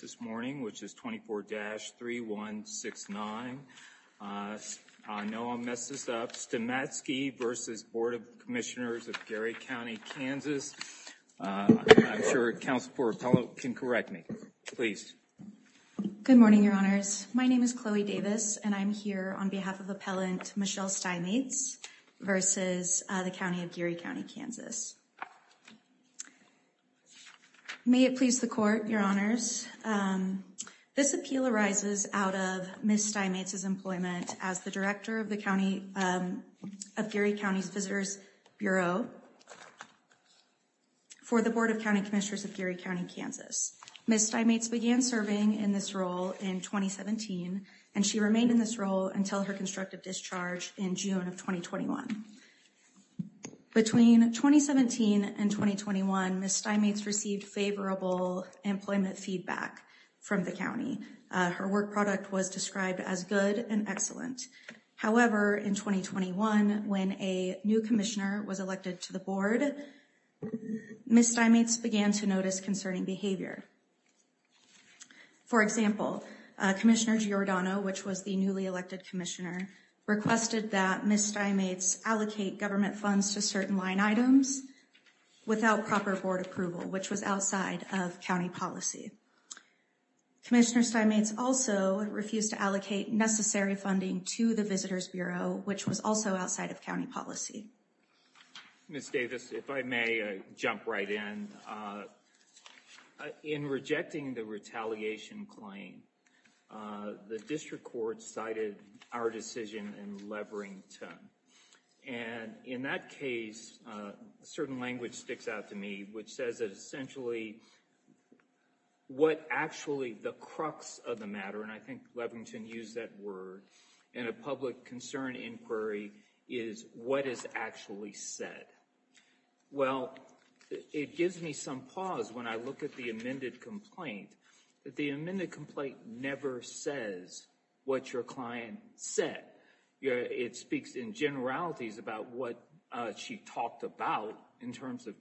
Good morning, Your Honors. My name is Chloe Davis, and I'm here on behalf of Appellant Michelle Stimatze v. the County of Geary County, Kansas. May it please the Court, Your Honors. This appeal arises out of Ms. Stimatze's employment as the Director of Geary County's Visitors Bureau for the Board of County Commissioners of Geary County, Kansas. Ms. Stimatze began serving in this role in 2017, and she remained in this role until her constructive discharge in June of 2021. Between 2017 and 2021, Ms. Stimatze received favorable employment feedback from the County. Her work product was described as good and excellent. However, in 2021, when a new commissioner was elected to the Board, Ms. Stimatze began to notice concerning behavior. For example, Commissioner Giordano, which was the newly elected commissioner, requested that Ms. Stimatze allocate government funds to certain line items without proper Board approval, which was outside of County policy. Commissioner Stimatze also refused to allocate necessary funding to the Visitors Bureau, which was also outside of County policy. Ms. Davis, if I may jump right in. In rejecting the retaliation claim, the District Court cited our decision in Leverington, and in that case, a certain language sticks out to me, which says that essentially what actually the crux of the matter, and I think Leverington used that word in a public concern inquiry, is what is actually said. Well, it gives me some pause when I look at the amended complaint. The amended complaint never says what your client said. It speaks in generalities about what she talked about in terms of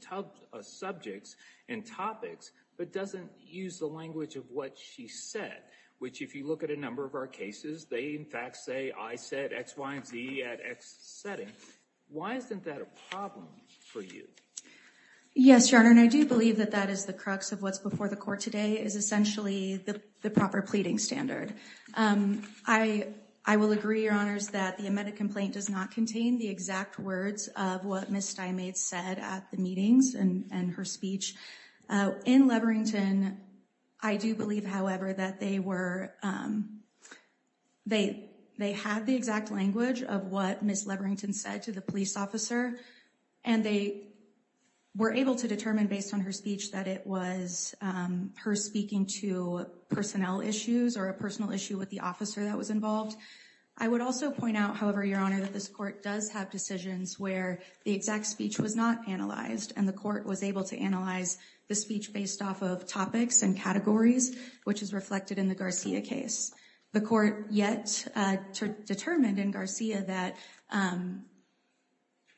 subjects and topics, but doesn't use the language of what she said, which if you look at a number of our cases, they in fact say I said X, Y, and Z at X setting. Why isn't that a problem for you? Yes, Your Honor, and I do believe that that is the crux of what's before the Court today, is essentially the proper pleading standard. I will agree, Your Honors, that the amended complaint does not contain the exact words of what Ms. Steinmade said at the meetings and her speech. In Leverington, I do believe, however, that they were, they had the exact language of what Ms. Leverington said to the police officer, and they were able to determine based on her speech that it was her speaking to personnel issues or a personal issue with the officer that was involved. I would also point out, however, Your Honor, that this Court does have decisions where the exact speech was not analyzed and the Court was able to analyze the speech based off of topics and categories, which is reflected in the Garcia case. The Court yet determined in Garcia that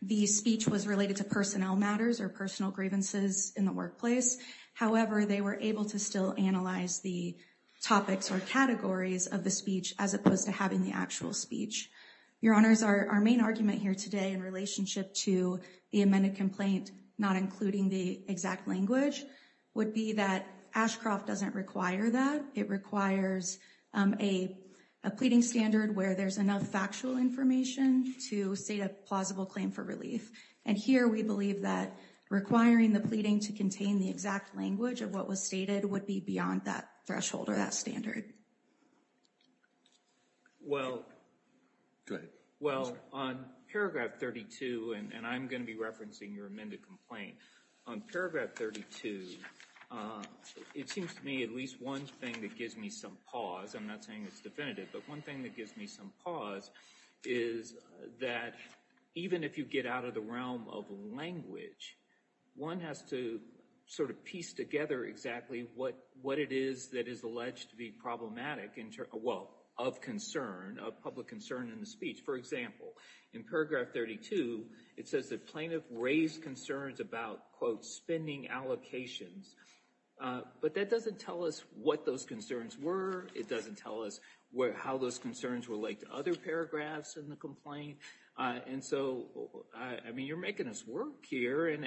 the speech was related to personnel matters or personal grievances in the workplace. However, they were able to still analyze the topics or categories of the speech as opposed to having the actual speech. Your Honors, our main argument here today in relationship to the amended complaint not including the exact language would be that Ashcroft doesn't require that. It requires a pleading standard where there's enough factual information to state a plausible claim for relief, and here we believe that requiring the pleading to contain the exact language of what was stated would be beyond that threshold or that standard. Well, go ahead. Well, on paragraph 32, and I'm going to be referencing your amended complaint, on paragraph 32, it seems to me at least one thing that gives me some pause, I'm not saying it's definitive, but one thing that gives me some pause is that even if you get out of the realm of language, one has to sort of piece together exactly what it is that is alleged to be problematic in terms, well, of concern, of public concern in the speech. For example, in paragraph 32, it says the plaintiff raised concerns about, quote, spending allocations, but that doesn't tell us what those concerns were. It doesn't tell us how those concerns relate to other paragraphs in the complaint, and so, I mean, you're making us work here in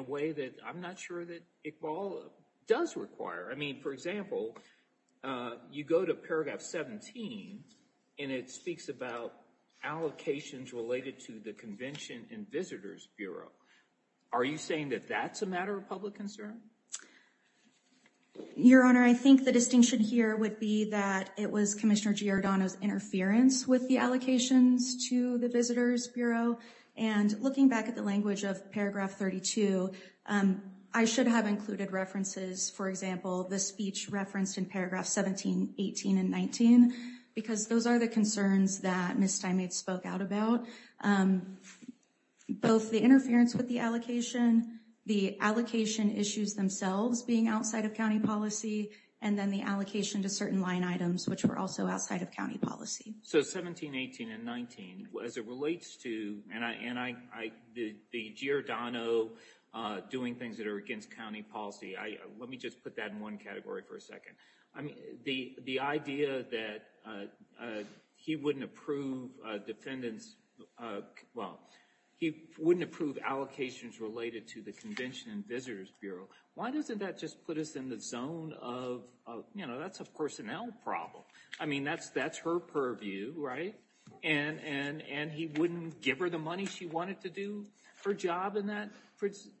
a way that I'm not sure that Iqbal does require. I mean, for example, you go to paragraph 17, and it speaks about allocations related to the Convention and Visitors Bureau. Are you saying that that's a matter of public concern? Your Honor, I think the distinction here would be that it was Commissioner Giordano's interference with the allocations to the Visitors Bureau, and looking back at the language of paragraph 32, I should have included references, for example, the speech referenced in paragraph 17, 18, and 19, because those are the concerns that Ms. Steinmetz spoke out about, both the interference with the allocation, the allocation issues themselves being outside of policy, and then the allocation to certain line items, which were also outside of county policy. So 17, 18, and 19, as it relates to, and I, the Giordano doing things that are against county policy, I, let me just put that in one category for a second. I mean, the idea that he wouldn't approve defendants, well, he wouldn't approve allocations related to the Convention and Visitors Bureau. Why doesn't that just put us in the zone of, you know, that's a personnel problem. I mean, that's her purview, right? And he wouldn't give her the money she wanted to do her job in that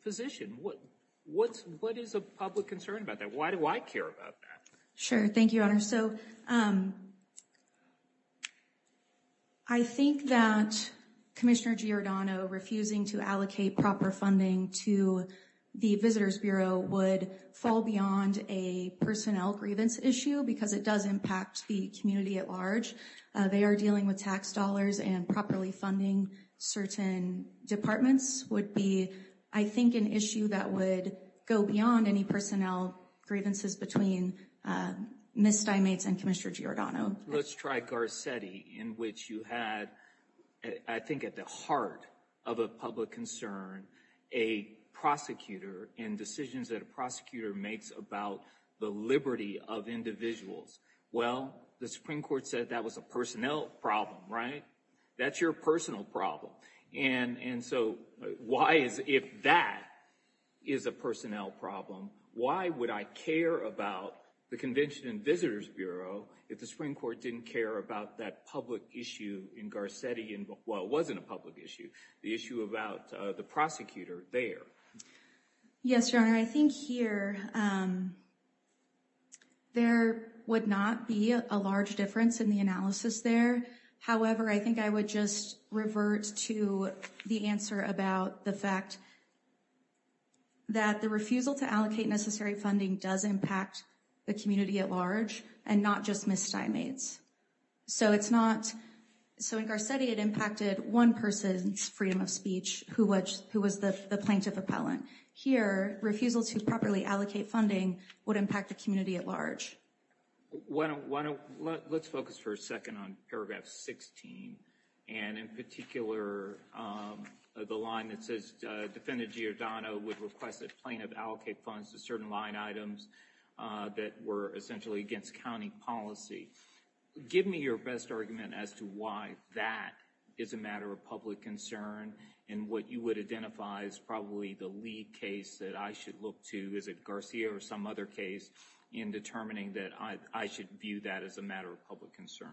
position. What is a public concern about that? Why do I care about that? Sure. Thank you, Your Honor. So I think that Commissioner Giordano refusing to allocate proper funding to the Visitors Bureau would fall beyond a personnel grievance issue because it does impact the community at large. They are dealing with tax dollars and properly funding certain departments would be, I think, an issue that would go beyond any personnel grievances between Ms. Steinmetz and Commissioner Giordano. Let's try Garcetti, in which you had, I think at the heart of a public concern, a prosecutor and decisions that a prosecutor makes about the liberty of individuals. Well, the Supreme Court said that was a personnel problem, right? That's your personal problem. And so why is, if that is a personnel problem, why would I care about the Convention and Visitors Bureau if the Supreme Court didn't care about that public issue in Garcetti and, well, it wasn't a public issue, the issue about the prosecutor there? Yes, Your Honor. I think here there would not be a large difference in the analysis there. However, I think I would just revert to the answer about the fact that the refusal to allocate So in Garcetti, it impacted one person's freedom of speech, who was the plaintiff appellant. Here, refusal to properly allocate funding would impact the community at large. Let's focus for a second on paragraph 16, and in particular, the line that says Defendant Giordano would request that plaintiff allocate funds to certain line items that were essentially against county policy. Give me your best argument as to why that is a matter of public concern, and what you would identify as probably the lead case that I should look to, is it Garcia or some other case, in determining that I should view that as a matter of public concern?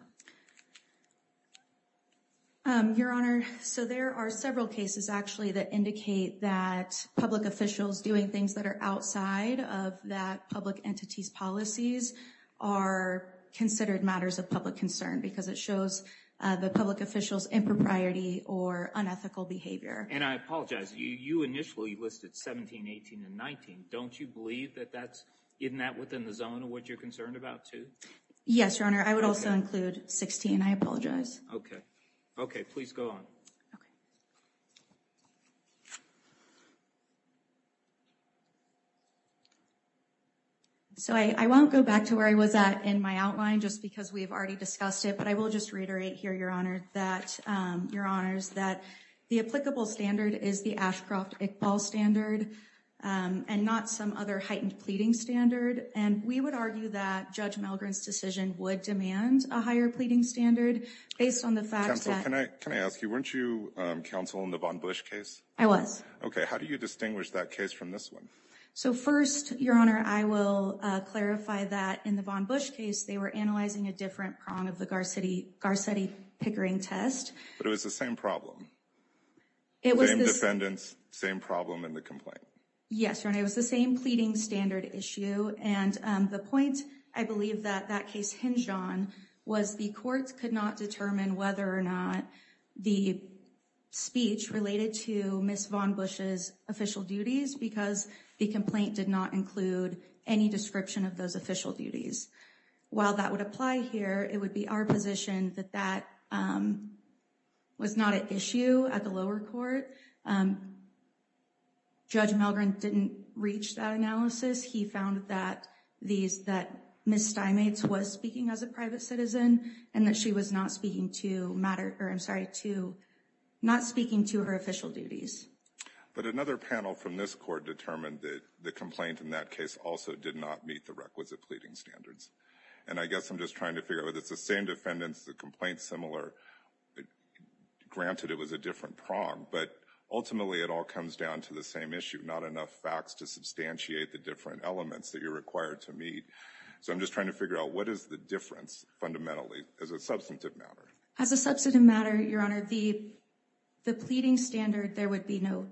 Your Honor, so there are several cases actually that indicate that public officials doing things that are outside of that public entity's policies are considered matters of public concern, because it shows the public official's impropriety or unethical behavior. And I apologize, you initially listed 17, 18, and 19. Don't you believe that that's in that within the zone of what you're concerned about too? Yes, Your Honor. I would also include 16. I apologize. Okay. Okay, please go on. So, I won't go back to where I was at in my outline, just because we've already discussed it, but I will just reiterate here, Your Honor, that the applicable standard is the Ashcroft-Iqbal standard, and not some other heightened pleading standard. And we would argue that Judge Malgren's decision would demand a higher pleading standard, based on the fact that... Counsel, can I ask you, weren't you counsel in the Von Busch case? I was. Okay, how do you distinguish that case from the other? So first, Your Honor, I will clarify that in the Von Busch case, they were analyzing a different prong of the Garcetti-Pickering test. But it was the same problem. Same defendants, same problem in the complaint. Yes, Your Honor. It was the same pleading standard issue, and the point I believe that that case hinged on was the courts could not determine whether or not the speech related to Ms. Von Busch's official duties, because the complaint did not include any description of those official duties. While that would apply here, it would be our position that that was not an issue at the lower court. Judge Malgren didn't reach that analysis. He found that Ms. Steinmetz was speaking as a private citizen, and that she was not speaking to her official duties. But another panel from this court determined that the complaint in that case also did not meet the requisite pleading standards. And I guess I'm just trying to figure out whether it's the same defendants, the complaint's similar. Granted, it was a different prong, but ultimately it all comes down to the same issue, not enough facts to substantiate the different elements that you're required to meet. So I'm just trying to figure out what is the fundamentally as a substantive matter. As a substantive matter, Your Honor, the pleading standard, there would be no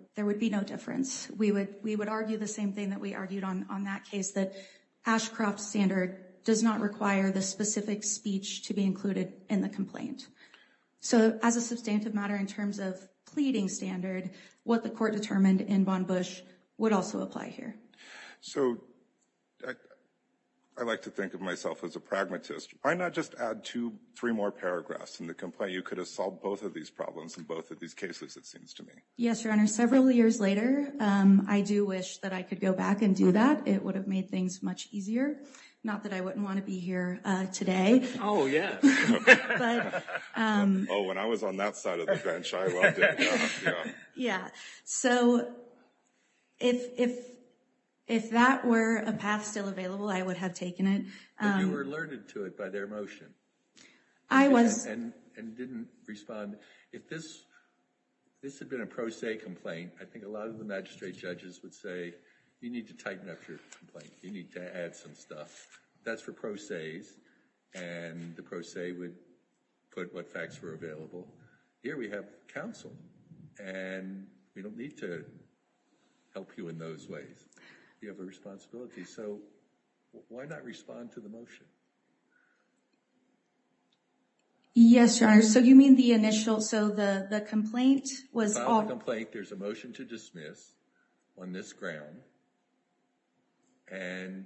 difference. We would argue the same thing that we argued on that case, that Ashcroft's standard does not require the specific speech to be included in the complaint. So as a substantive matter in terms of pleading standard, what the court determined in Von Busch would also apply here. So I like to think of myself as a pragmatist. Why not just add two, three more paragraphs in the complaint? You could have solved both of these problems in both of these cases, it seems to me. Yes, Your Honor. Several years later, I do wish that I could go back and do that. It would have made things much easier. Not that I wouldn't want to be here today. Oh, yes. Oh, when I was on that side of the bench, I loved it. Yeah. So if that were a path still available, I would have taken it. But you were alerted to it by their motion. I was. And didn't respond. If this had been a pro se complaint, I think a lot of the magistrate judges would say, you need to tighten up your complaint. You need to add some stuff. That's for pro se's. And the pro se would put what facts were available. Here we have counsel. And we don't need to help you in those ways. You have a responsibility. So why not respond to the motion? Yes, Your Honor. So you mean the initial, so the the complaint was a complaint. There's a motion to dismiss on this ground. And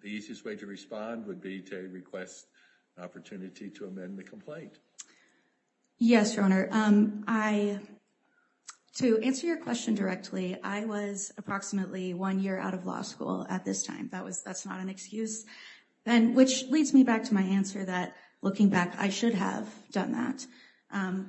the easiest way to respond would be to request an opportunity to amend the complaint. Yes, Your Honor. I, to answer your question directly, I was approximately one year out of law school at this time. That was that's not an excuse. And which leads me back to my answer that looking back, I should have done that.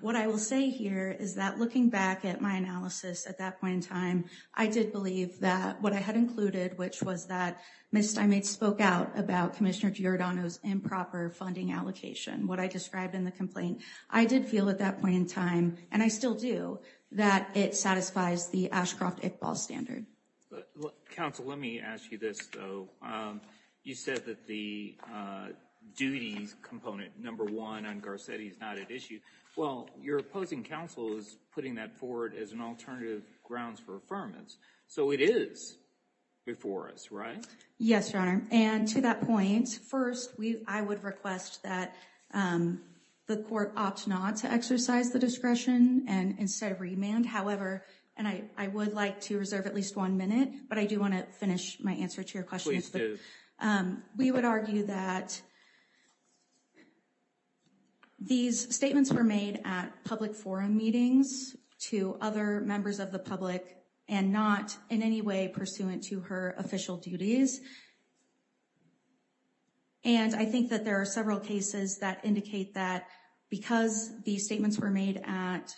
What I will say here is that looking back at my analysis at that point in time, I did believe that what I had included, which was that Ms. Steinmetz spoke out about Commissioner Giordano's improper funding allocation, what I described in the complaint. I did feel at that point in time, and I still do, that it satisfies the Ashcroft-Iqbal standard. Counsel, let me ask you this, though. You said that the duties component number one on Garcetti is not at issue. Well, your opposing counsel is putting that forward as an alternative grounds for affirmance. So it is before us, right? Yes, Your Honor. And to that point, first, I would request that the court opt not to exercise the discretion and instead remand. However, and I would like to reserve at least one minute, but I do want to finish my answer to your question. Please do. We would argue that these statements were made at public forum meetings to other members of the public and not in any way pursuant to her official duties. And I think that there are several cases that indicate that because these statements were made at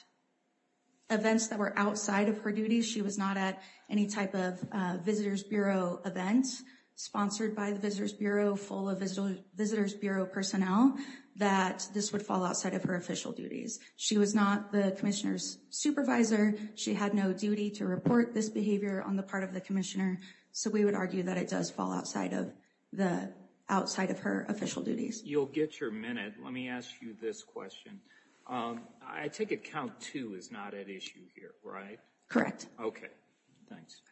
events that were outside of her duties, she was not at any type of Visitor's Bureau event sponsored by the Visitor's Bureau, full of Visitor's Bureau personnel, that this would fall outside of her official duties. She was not the Commissioner's supervisor. She had no duty to report this behavior on the part of the Commissioner. So we would argue that it does fall outside of her official duties. You'll get your minute. Let me ask you this question. I take it count two is not at issue here, right? Correct. Okay. Thanks. Okay.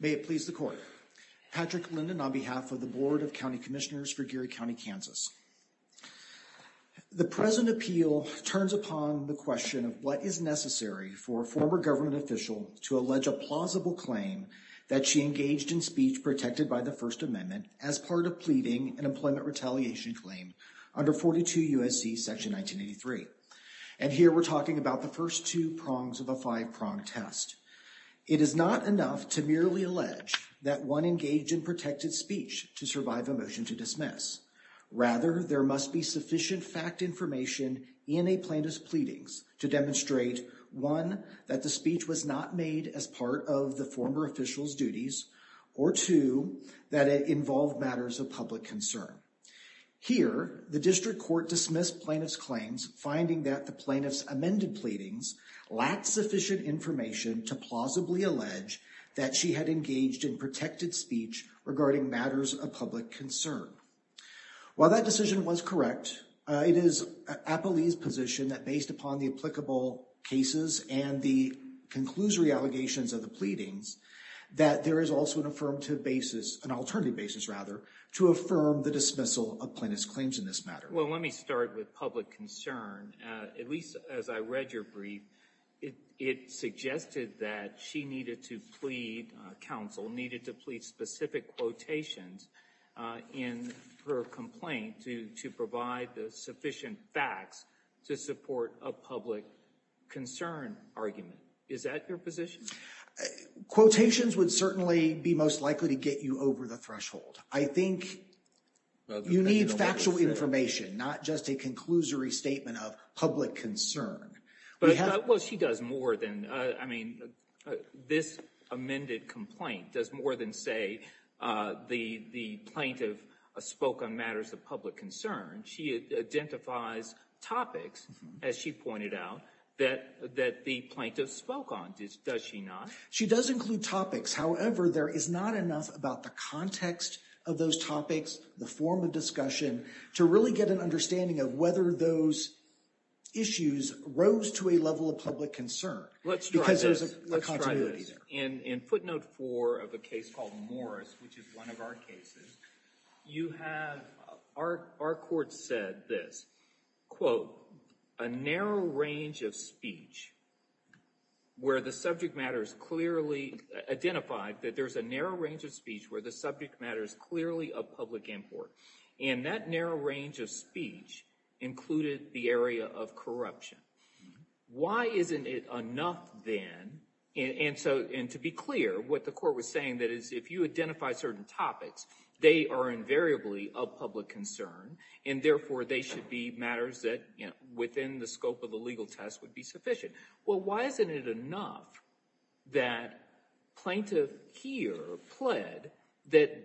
May it please the Court. Patrick Linden on behalf of the Board of County Commissioners for Geary for former government official to allege a plausible claim that she engaged in speech protected by the First Amendment as part of pleading an employment retaliation claim under 42 USC section 1983. And here we're talking about the first two prongs of a five-prong test. It is not enough to merely allege that one engaged in protected speech to survive a motion to dismiss. Rather, there must be sufficient fact information in a plaintiff's pleadings to demonstrate, one, that the speech was not made as part of the former official's duties, or two, that it involved matters of public concern. Here, the District Court dismissed plaintiff's claims, finding that the plaintiff's amended pleadings lacked sufficient information to plausibly allege that she had engaged in protected speech regarding matters of public concern. While that decision was correct, it is Appellee's position that based upon the applicable cases and the conclusory allegations of the pleadings, that there is also an affirmative basis, an alternative basis rather, to affirm the dismissal of plaintiff's claims in this matter. Well, let me start with public concern. At least as I read your brief, it suggested that she needed to plead counsel, needed to plead specific quotations in her complaint to provide the sufficient facts to support a public concern argument. Is that your position? Quotations would certainly be most likely to get you over the threshold. I think you need factual information, not just a conclusory statement of public concern. Well, she does more than, I mean, this amended complaint does more than say the plaintiff spoke on matters of public concern. She identifies topics, as she pointed out, that the plaintiff spoke on, does she not? She does include topics. However, there is not enough about the context of those topics, the form of discussion, to really get an understanding of whether those issues rose to a level of public concern. Let's try this. In footnote four of a case called Morris, which is one of our cases, you have, our court said this, quote, a narrow range of speech where the subject matter is clearly identified, that there's a narrow range of speech where the narrow range of speech included the area of corruption. Why isn't it enough then, and to be clear, what the court was saying that is if you identify certain topics, they are invariably of public concern, and therefore they should be matters that within the scope of the legal test would be sufficient. Well, why isn't it enough that plaintiff here pled that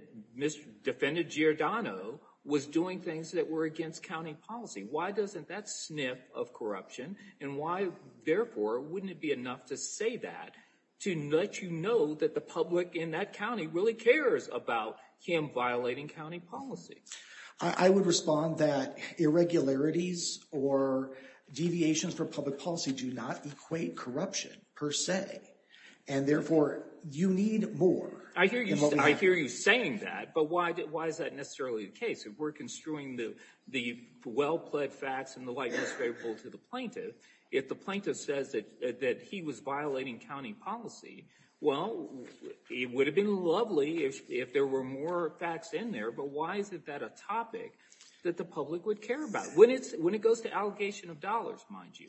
defendant Giordano was doing things that were against county policy? Why doesn't that sniff of corruption, and why, therefore, wouldn't it be enough to say that to let you know that the public in that county really cares about him violating county policy? I would respond that irregularities or deviations for public policy do not equate corruption, per se, and therefore, you need more. I hear you. I hear you saying that, but why is that necessarily the case? If we're construing the well-pled facts and the likeness favorable to the plaintiff, if the plaintiff says that he was violating county policy, well, it would have been lovely if there were more facts in there, but why is it that a topic that the public would care about when it goes to allegation of dollars, mind you,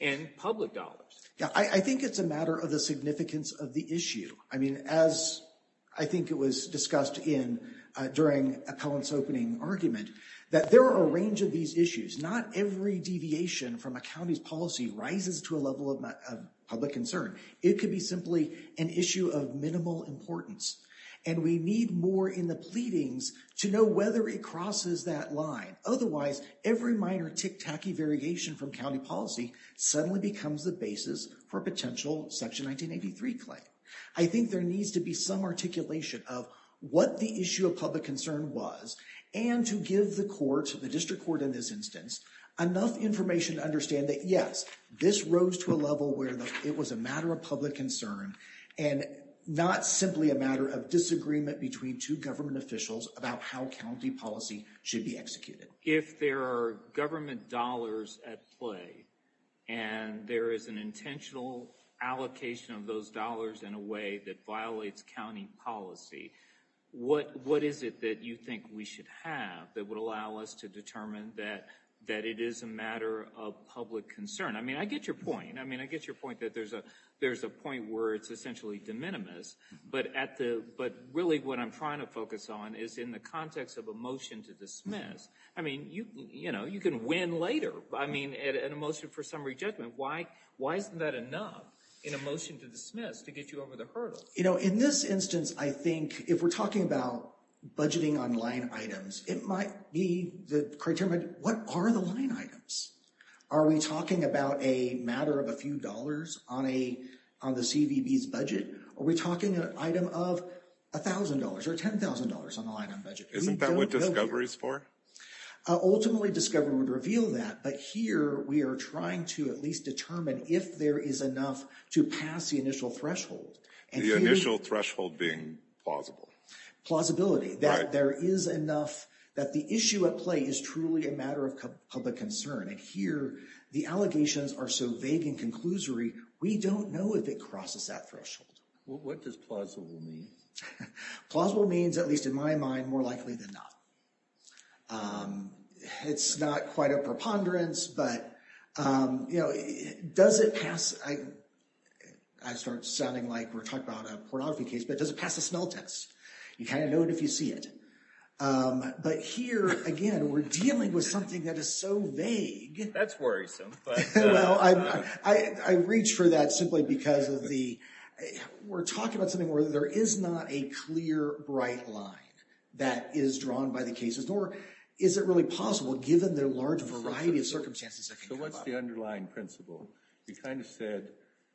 and public dollars? Yeah, I think it's a matter of the significance of the issue. I mean, as I think it was discussed during Appellant's opening argument, that there are a range of these issues. Not every deviation from a county's policy rises to a level of public concern. It could be simply an issue of minimal importance, and we need more in the pleadings to know whether it crosses that line. Otherwise, every minor tick-tacky variegation from county policy suddenly becomes the basis for a potential Section 1983 claim. I think there needs to be some articulation of what the issue of public concern was and to give the court, the district court in this instance, enough information to understand that, yes, this rose to a level where it was a matter of public concern and not simply a matter of disagreement between two government officials about how county policy should be executed. If there are government dollars at play and there is an intentional allocation of those dollars in a way that violates county policy, what is it that you think we should have that would allow us to determine that it is a matter of public concern? I mean, I get your point. I mean, I get your point that there's a there's a point where it's essentially de minimis, but really what I'm trying to focus on is in the context of a motion to dismiss. I mean, you know, you can win later. I mean, at a motion for summary judgment, why isn't that enough in a motion to dismiss to get you over the hurdle? You know, in this instance, I think if we're talking about budgeting on line items, it might be the criteria. What are the line items? Are we talking about a matter of a few dollars on a on the CVB's budget? Are we talking an item of a thousand dollars or ten thousand dollars on the line on budget? Isn't that what discovery is for? Ultimately, discovery would reveal that, but here we are trying to at least determine if there is enough to pass the initial threshold. The initial threshold being plausible. Plausibility that there is enough that the issue at play is truly a matter of public concern. And here the allegations are so vague and conclusory, we don't know if it crosses that threshold. What does plausible mean? Plausible means, at least in my mind, more likely than not. It's not quite a preponderance, but, you know, does it pass? I start sounding like we're talking about a pornography case, but does it pass the smell test? You kind of know it if you see it. But here, again, we're dealing with something that is so vague. That's worrisome. Well, I reach for that simply because of the, we're talking about something where there is not a clear, bright line that is drawn by the cases, nor is it really possible given their large variety of circumstances. So what's the underlying principle? You kind of said,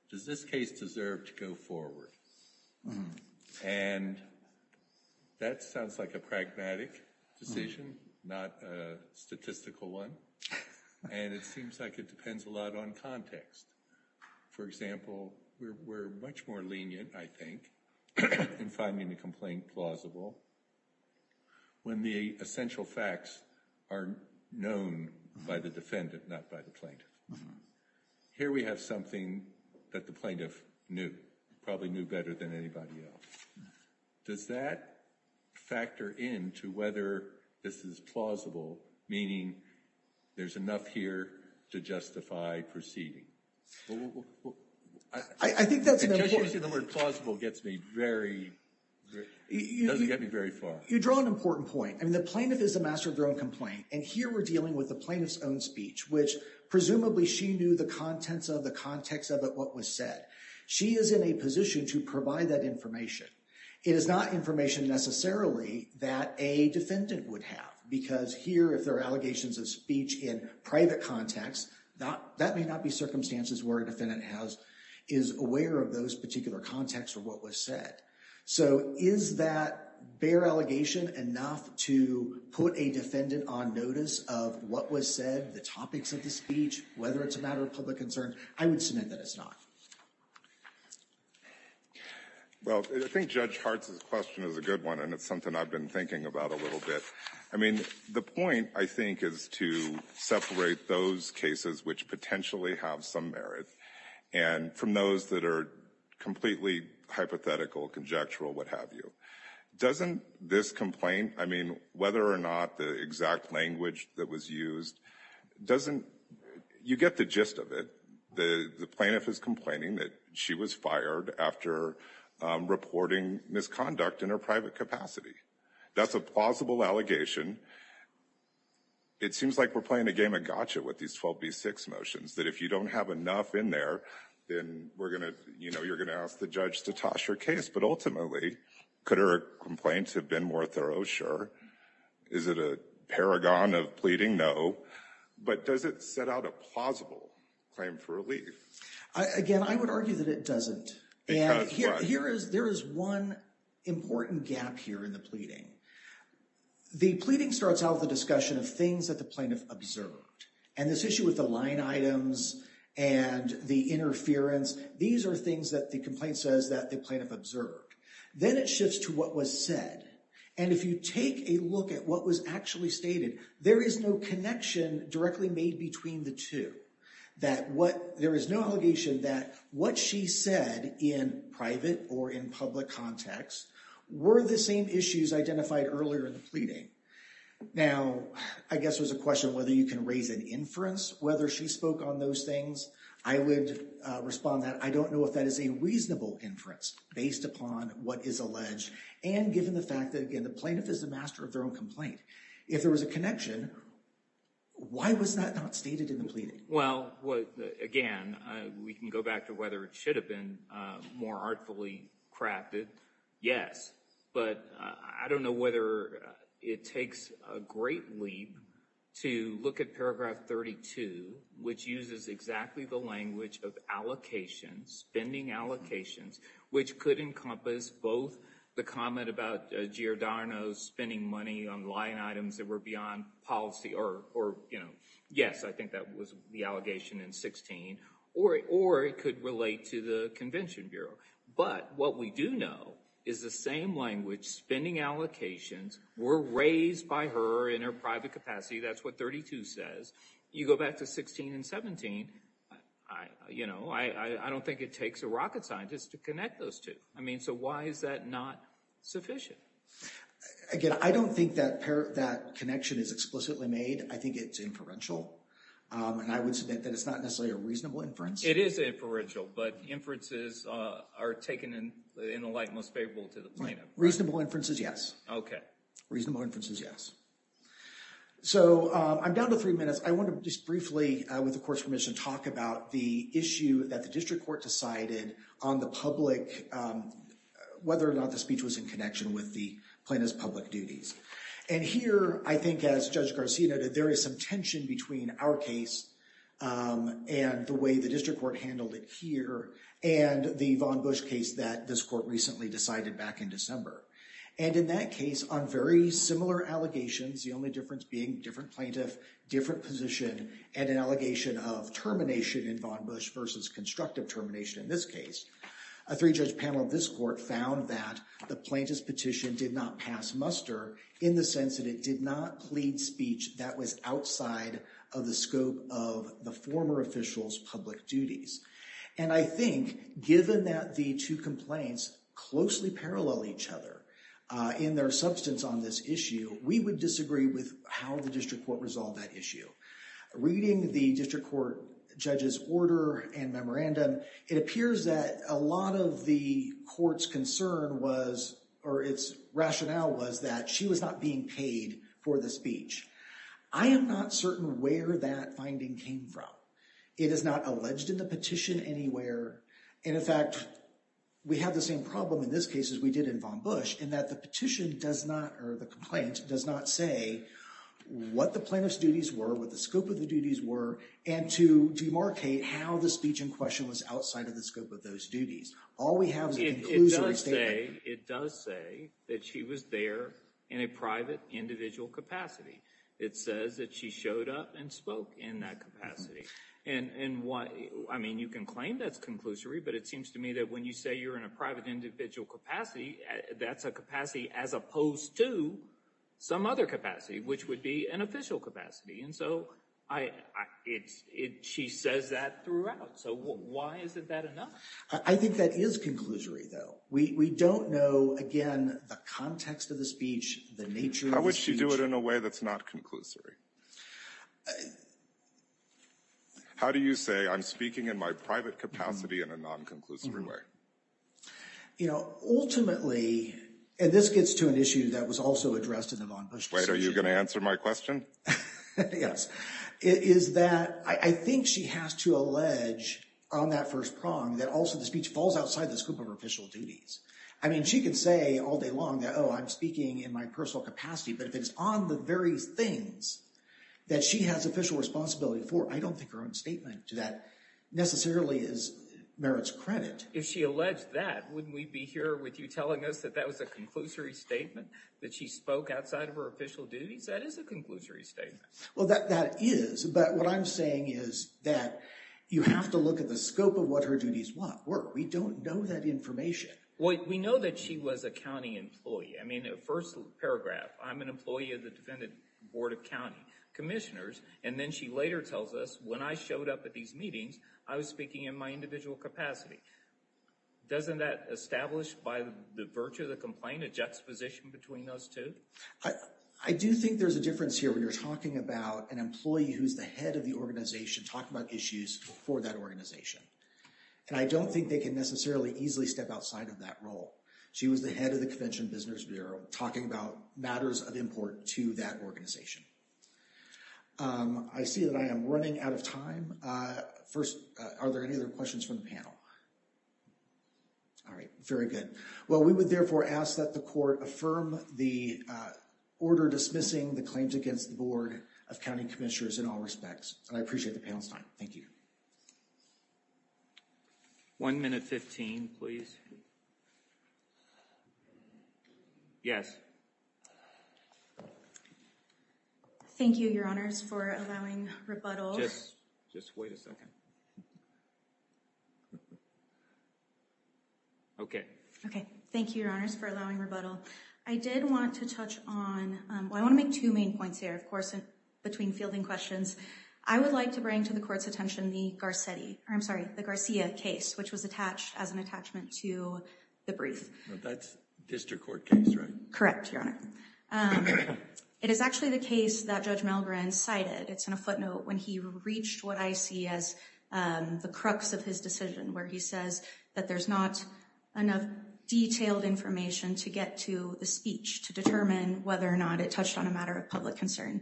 does this case deserve to go forward? And that sounds like a pragmatic decision, not a statistical one. And it seems like it depends a lot on context. For example, we're much more lenient, I think, in finding the complaint plausible when the essential facts are known by the defendant, not by the plaintiff. Here we have something that the plaintiff knew, probably knew better than anybody else. Does that factor into whether this is plausible, meaning there's enough here to justify proceeding? Well, I think that's an important point. Because using the word plausible gets me very, doesn't get me very far. You draw an important point. I mean, the plaintiff is the master of their own complaint. And here we're dealing with the plaintiff's own speech, which presumably she knew the contents of, the context of it, what was said. She is in a position to provide that information. It is not information necessarily that a defendant would have. Because here, if there are allegations of speech in private context, that may not be circumstances where a defendant is aware of those particular contexts or what was said. So is that bare allegation enough to put a defendant on notice of what was said, the topics of the speech, whether it's a matter of public concern? I would submit that it's not. Well, I think Judge Hart's question is a good one. And it's something I've been thinking about a little bit. I mean, the point, I think, is to separate those cases which potentially have some merit, and from those that are completely hypothetical, conjectural, what have you. Doesn't this complaint, I mean, whether or not the exact language that was used, doesn't, you get the gist of it. The plaintiff is complaining that was fired after reporting misconduct in her private capacity. That's a plausible allegation. It seems like we're playing a game of gotcha with these 12B6 motions, that if you don't have enough in there, then we're going to, you know, you're going to ask the judge to toss your case. But ultimately, could her complaints have been more thorough? Sure. Is it a paragon of pleading? No. But does it set out a plausible claim for relief? Again, I would argue that it doesn't. There is one important gap here in the pleading. The pleading starts out with a discussion of things that the plaintiff observed. And this issue with the line items and the interference, these are things that the complaint says that the plaintiff observed. Then it shifts to what was said. And if you take a look at what was actually stated, there is no connection directly made between the two. There is no allegation that what she said in private or in public context were the same issues identified earlier in the pleading. Now, I guess there's a question whether you can raise an inference, whether she spoke on those things. I would respond that I don't know if that is a reasonable inference based upon what is alleged and given the fact that, again, the plaintiff is the master of their own complaint. If there was a connection, why was that not stated in the pleading? Well, again, we can go back to whether it should have been more artfully crafted. Yes. But I don't know whether it takes a great leap to look at paragraph 32, which uses exactly the language of allocations, spending allocations, which could encompass both the comment about Giordano spending money on line items that were beyond policy or, you know, yes, I think that was the allegation in 16, or it could relate to the Convention Bureau. But what we do know is the same language, spending allocations were raised by her in her private capacity. That's what 32 says. You go back to 16 and 17, you know, I don't think it takes a rocket scientist to connect those two. I mean, so why is that not sufficient? Again, I don't think that connection is explicitly made. I think it's inferential, and I would submit that it's not necessarily a reasonable inference. It is inferential, but inferences are taken in the light most favorable to the plaintiff. Reasonable inferences, yes. Okay. Reasonable inferences, yes. So I'm down to three minutes. I want to just briefly, with the Court's permission, talk about the issue that the District Court decided on the public, whether or not the speech was in connection with the plaintiff's public duties. And here, I think as Judge Garcia noted, there is some tension between our case and the way the District Court handled it here, and the Vaughn Bush case that this Court recently decided back in December. And in that case, on very similar allegations, the only difference being different plaintiff, different position, and an allegation of termination in Vaughn Bush versus constructive termination in this case, a three-judge panel of this Court found that the plaintiff's petition did not pass muster in the sense that it did not plead speech that was outside of the scope of the former official's public duties. And I think given that the two complaints closely parallel each other in their substance on this issue, we would disagree with how the District Court resolved that issue. Reading the District Court judge's order and memorandum, it appears that a lot of the Court's concern was, or its rationale was, that she was not being paid for the speech. I am not certain where that finding came from. It is not alleged in the petition anywhere, and in fact, we have the same problem in this case as we did in Vaughn Bush, in that the petition does not, or the complaint, does not say what the plaintiff's duties were, what the scope of the duties were, and to demarcate how the speech in question was outside of the scope of those duties. All we have is a conclusion statement. It does say that she was there in a private individual capacity. It says that she showed up and spoke in that capacity. And what, I mean, you can claim that's conclusory, but it seems to me that when you say you're in a private individual capacity, that's a capacity as opposed to some other capacity, which would be an official capacity. And so I, it's, it, she says that throughout. So why is it that enough? I think that is conclusory, though. We don't know, again, the context of the speech, the nature of the speech. How would she do it in a way that's not conclusory? How do you say I'm speaking in my private capacity in a non-conclusive way? You know, ultimately, and this gets to an issue that was also addressed in the Vaughn Bush petition. Wait, are you going to answer my question? Yes. It is that I think she has to allege on that first prong that also the speech falls outside the scope of her official duties. I mean, she could say all day long that, oh, I'm speaking in my personal capacity, but if it's on the very things that she has official responsibility for, I don't think her own statement to that necessarily is merits credit. If she alleged that, wouldn't we be here with you telling us that that was a conclusory statement, that she spoke outside of her official duties? That is a conclusory statement. Well, that, that is. But what I'm saying is that you have to look at the We know that she was a county employee. I mean, the first paragraph, I'm an employee of the Defendant Board of County Commissioners. And then she later tells us when I showed up at these meetings, I was speaking in my individual capacity. Doesn't that establish by the virtue of the complaint a juxtaposition between those two? I do think there's a difference here when you're talking about an employee who's the head of the organization talking about issues for that organization. And I don't think they can necessarily easily step outside of that role. She was the head of the Convention Business Bureau talking about matters of import to that organization. I see that I am running out of time. First, are there any other questions from the panel? All right. Very good. Well, we would therefore ask that the court affirm the order dismissing the claims against the Board of County Commissioners in all respects. And I appreciate the panel's time. Thank you. One minute, 15, please. Yes. Thank you, Your Honors, for allowing rebuttal. Just wait a second. Okay. Okay. Thank you, Your Honors, for allowing rebuttal. I did want to touch on, I want to make two main points here, of course, between fielding questions. I would like to bring to the court's attention the Garcetti, or I'm sorry, the Garcia case, which was attached as an attachment to the brief. That's district court case, right? Correct, Your Honor. It is actually the case that Judge Milgren cited. It's in a footnote when he reached what I see as the crux of his decision, where he says that there's not enough detailed information to get to the speech to determine whether or not it touched on a matter of public concern.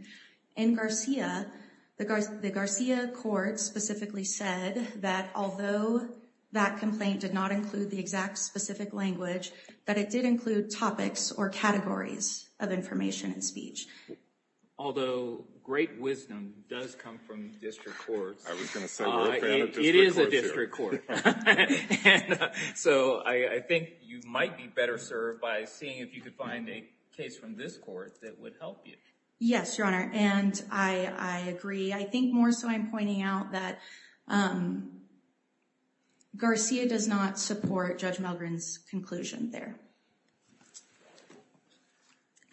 In Garcia, the Garcia court specifically said that although that complaint did not include the exact specific language, that it did include topics or categories of information in speech. Although great wisdom does come from district courts. It is a district court. So I think you might be better served by seeing if you could find a case from this that would help you. Yes, Your Honor, and I agree. I think more so I'm pointing out that Garcia does not support Judge Milgren's conclusion there.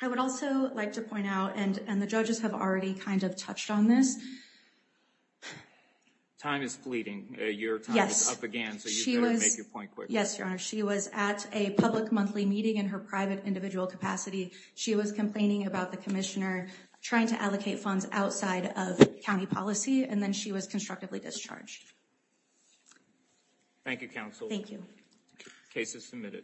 I would also like to point out, and the judges have already kind of touched on this. Time is fleeting. Your time is up again, so you better make your point quick. Yes, Your Honor. She was at a public monthly meeting in her private individual capacity. She was complaining about the commissioner trying to allocate funds outside of county policy, and then she was constructively discharged. Thank you, counsel. Thank you. Case is submitted.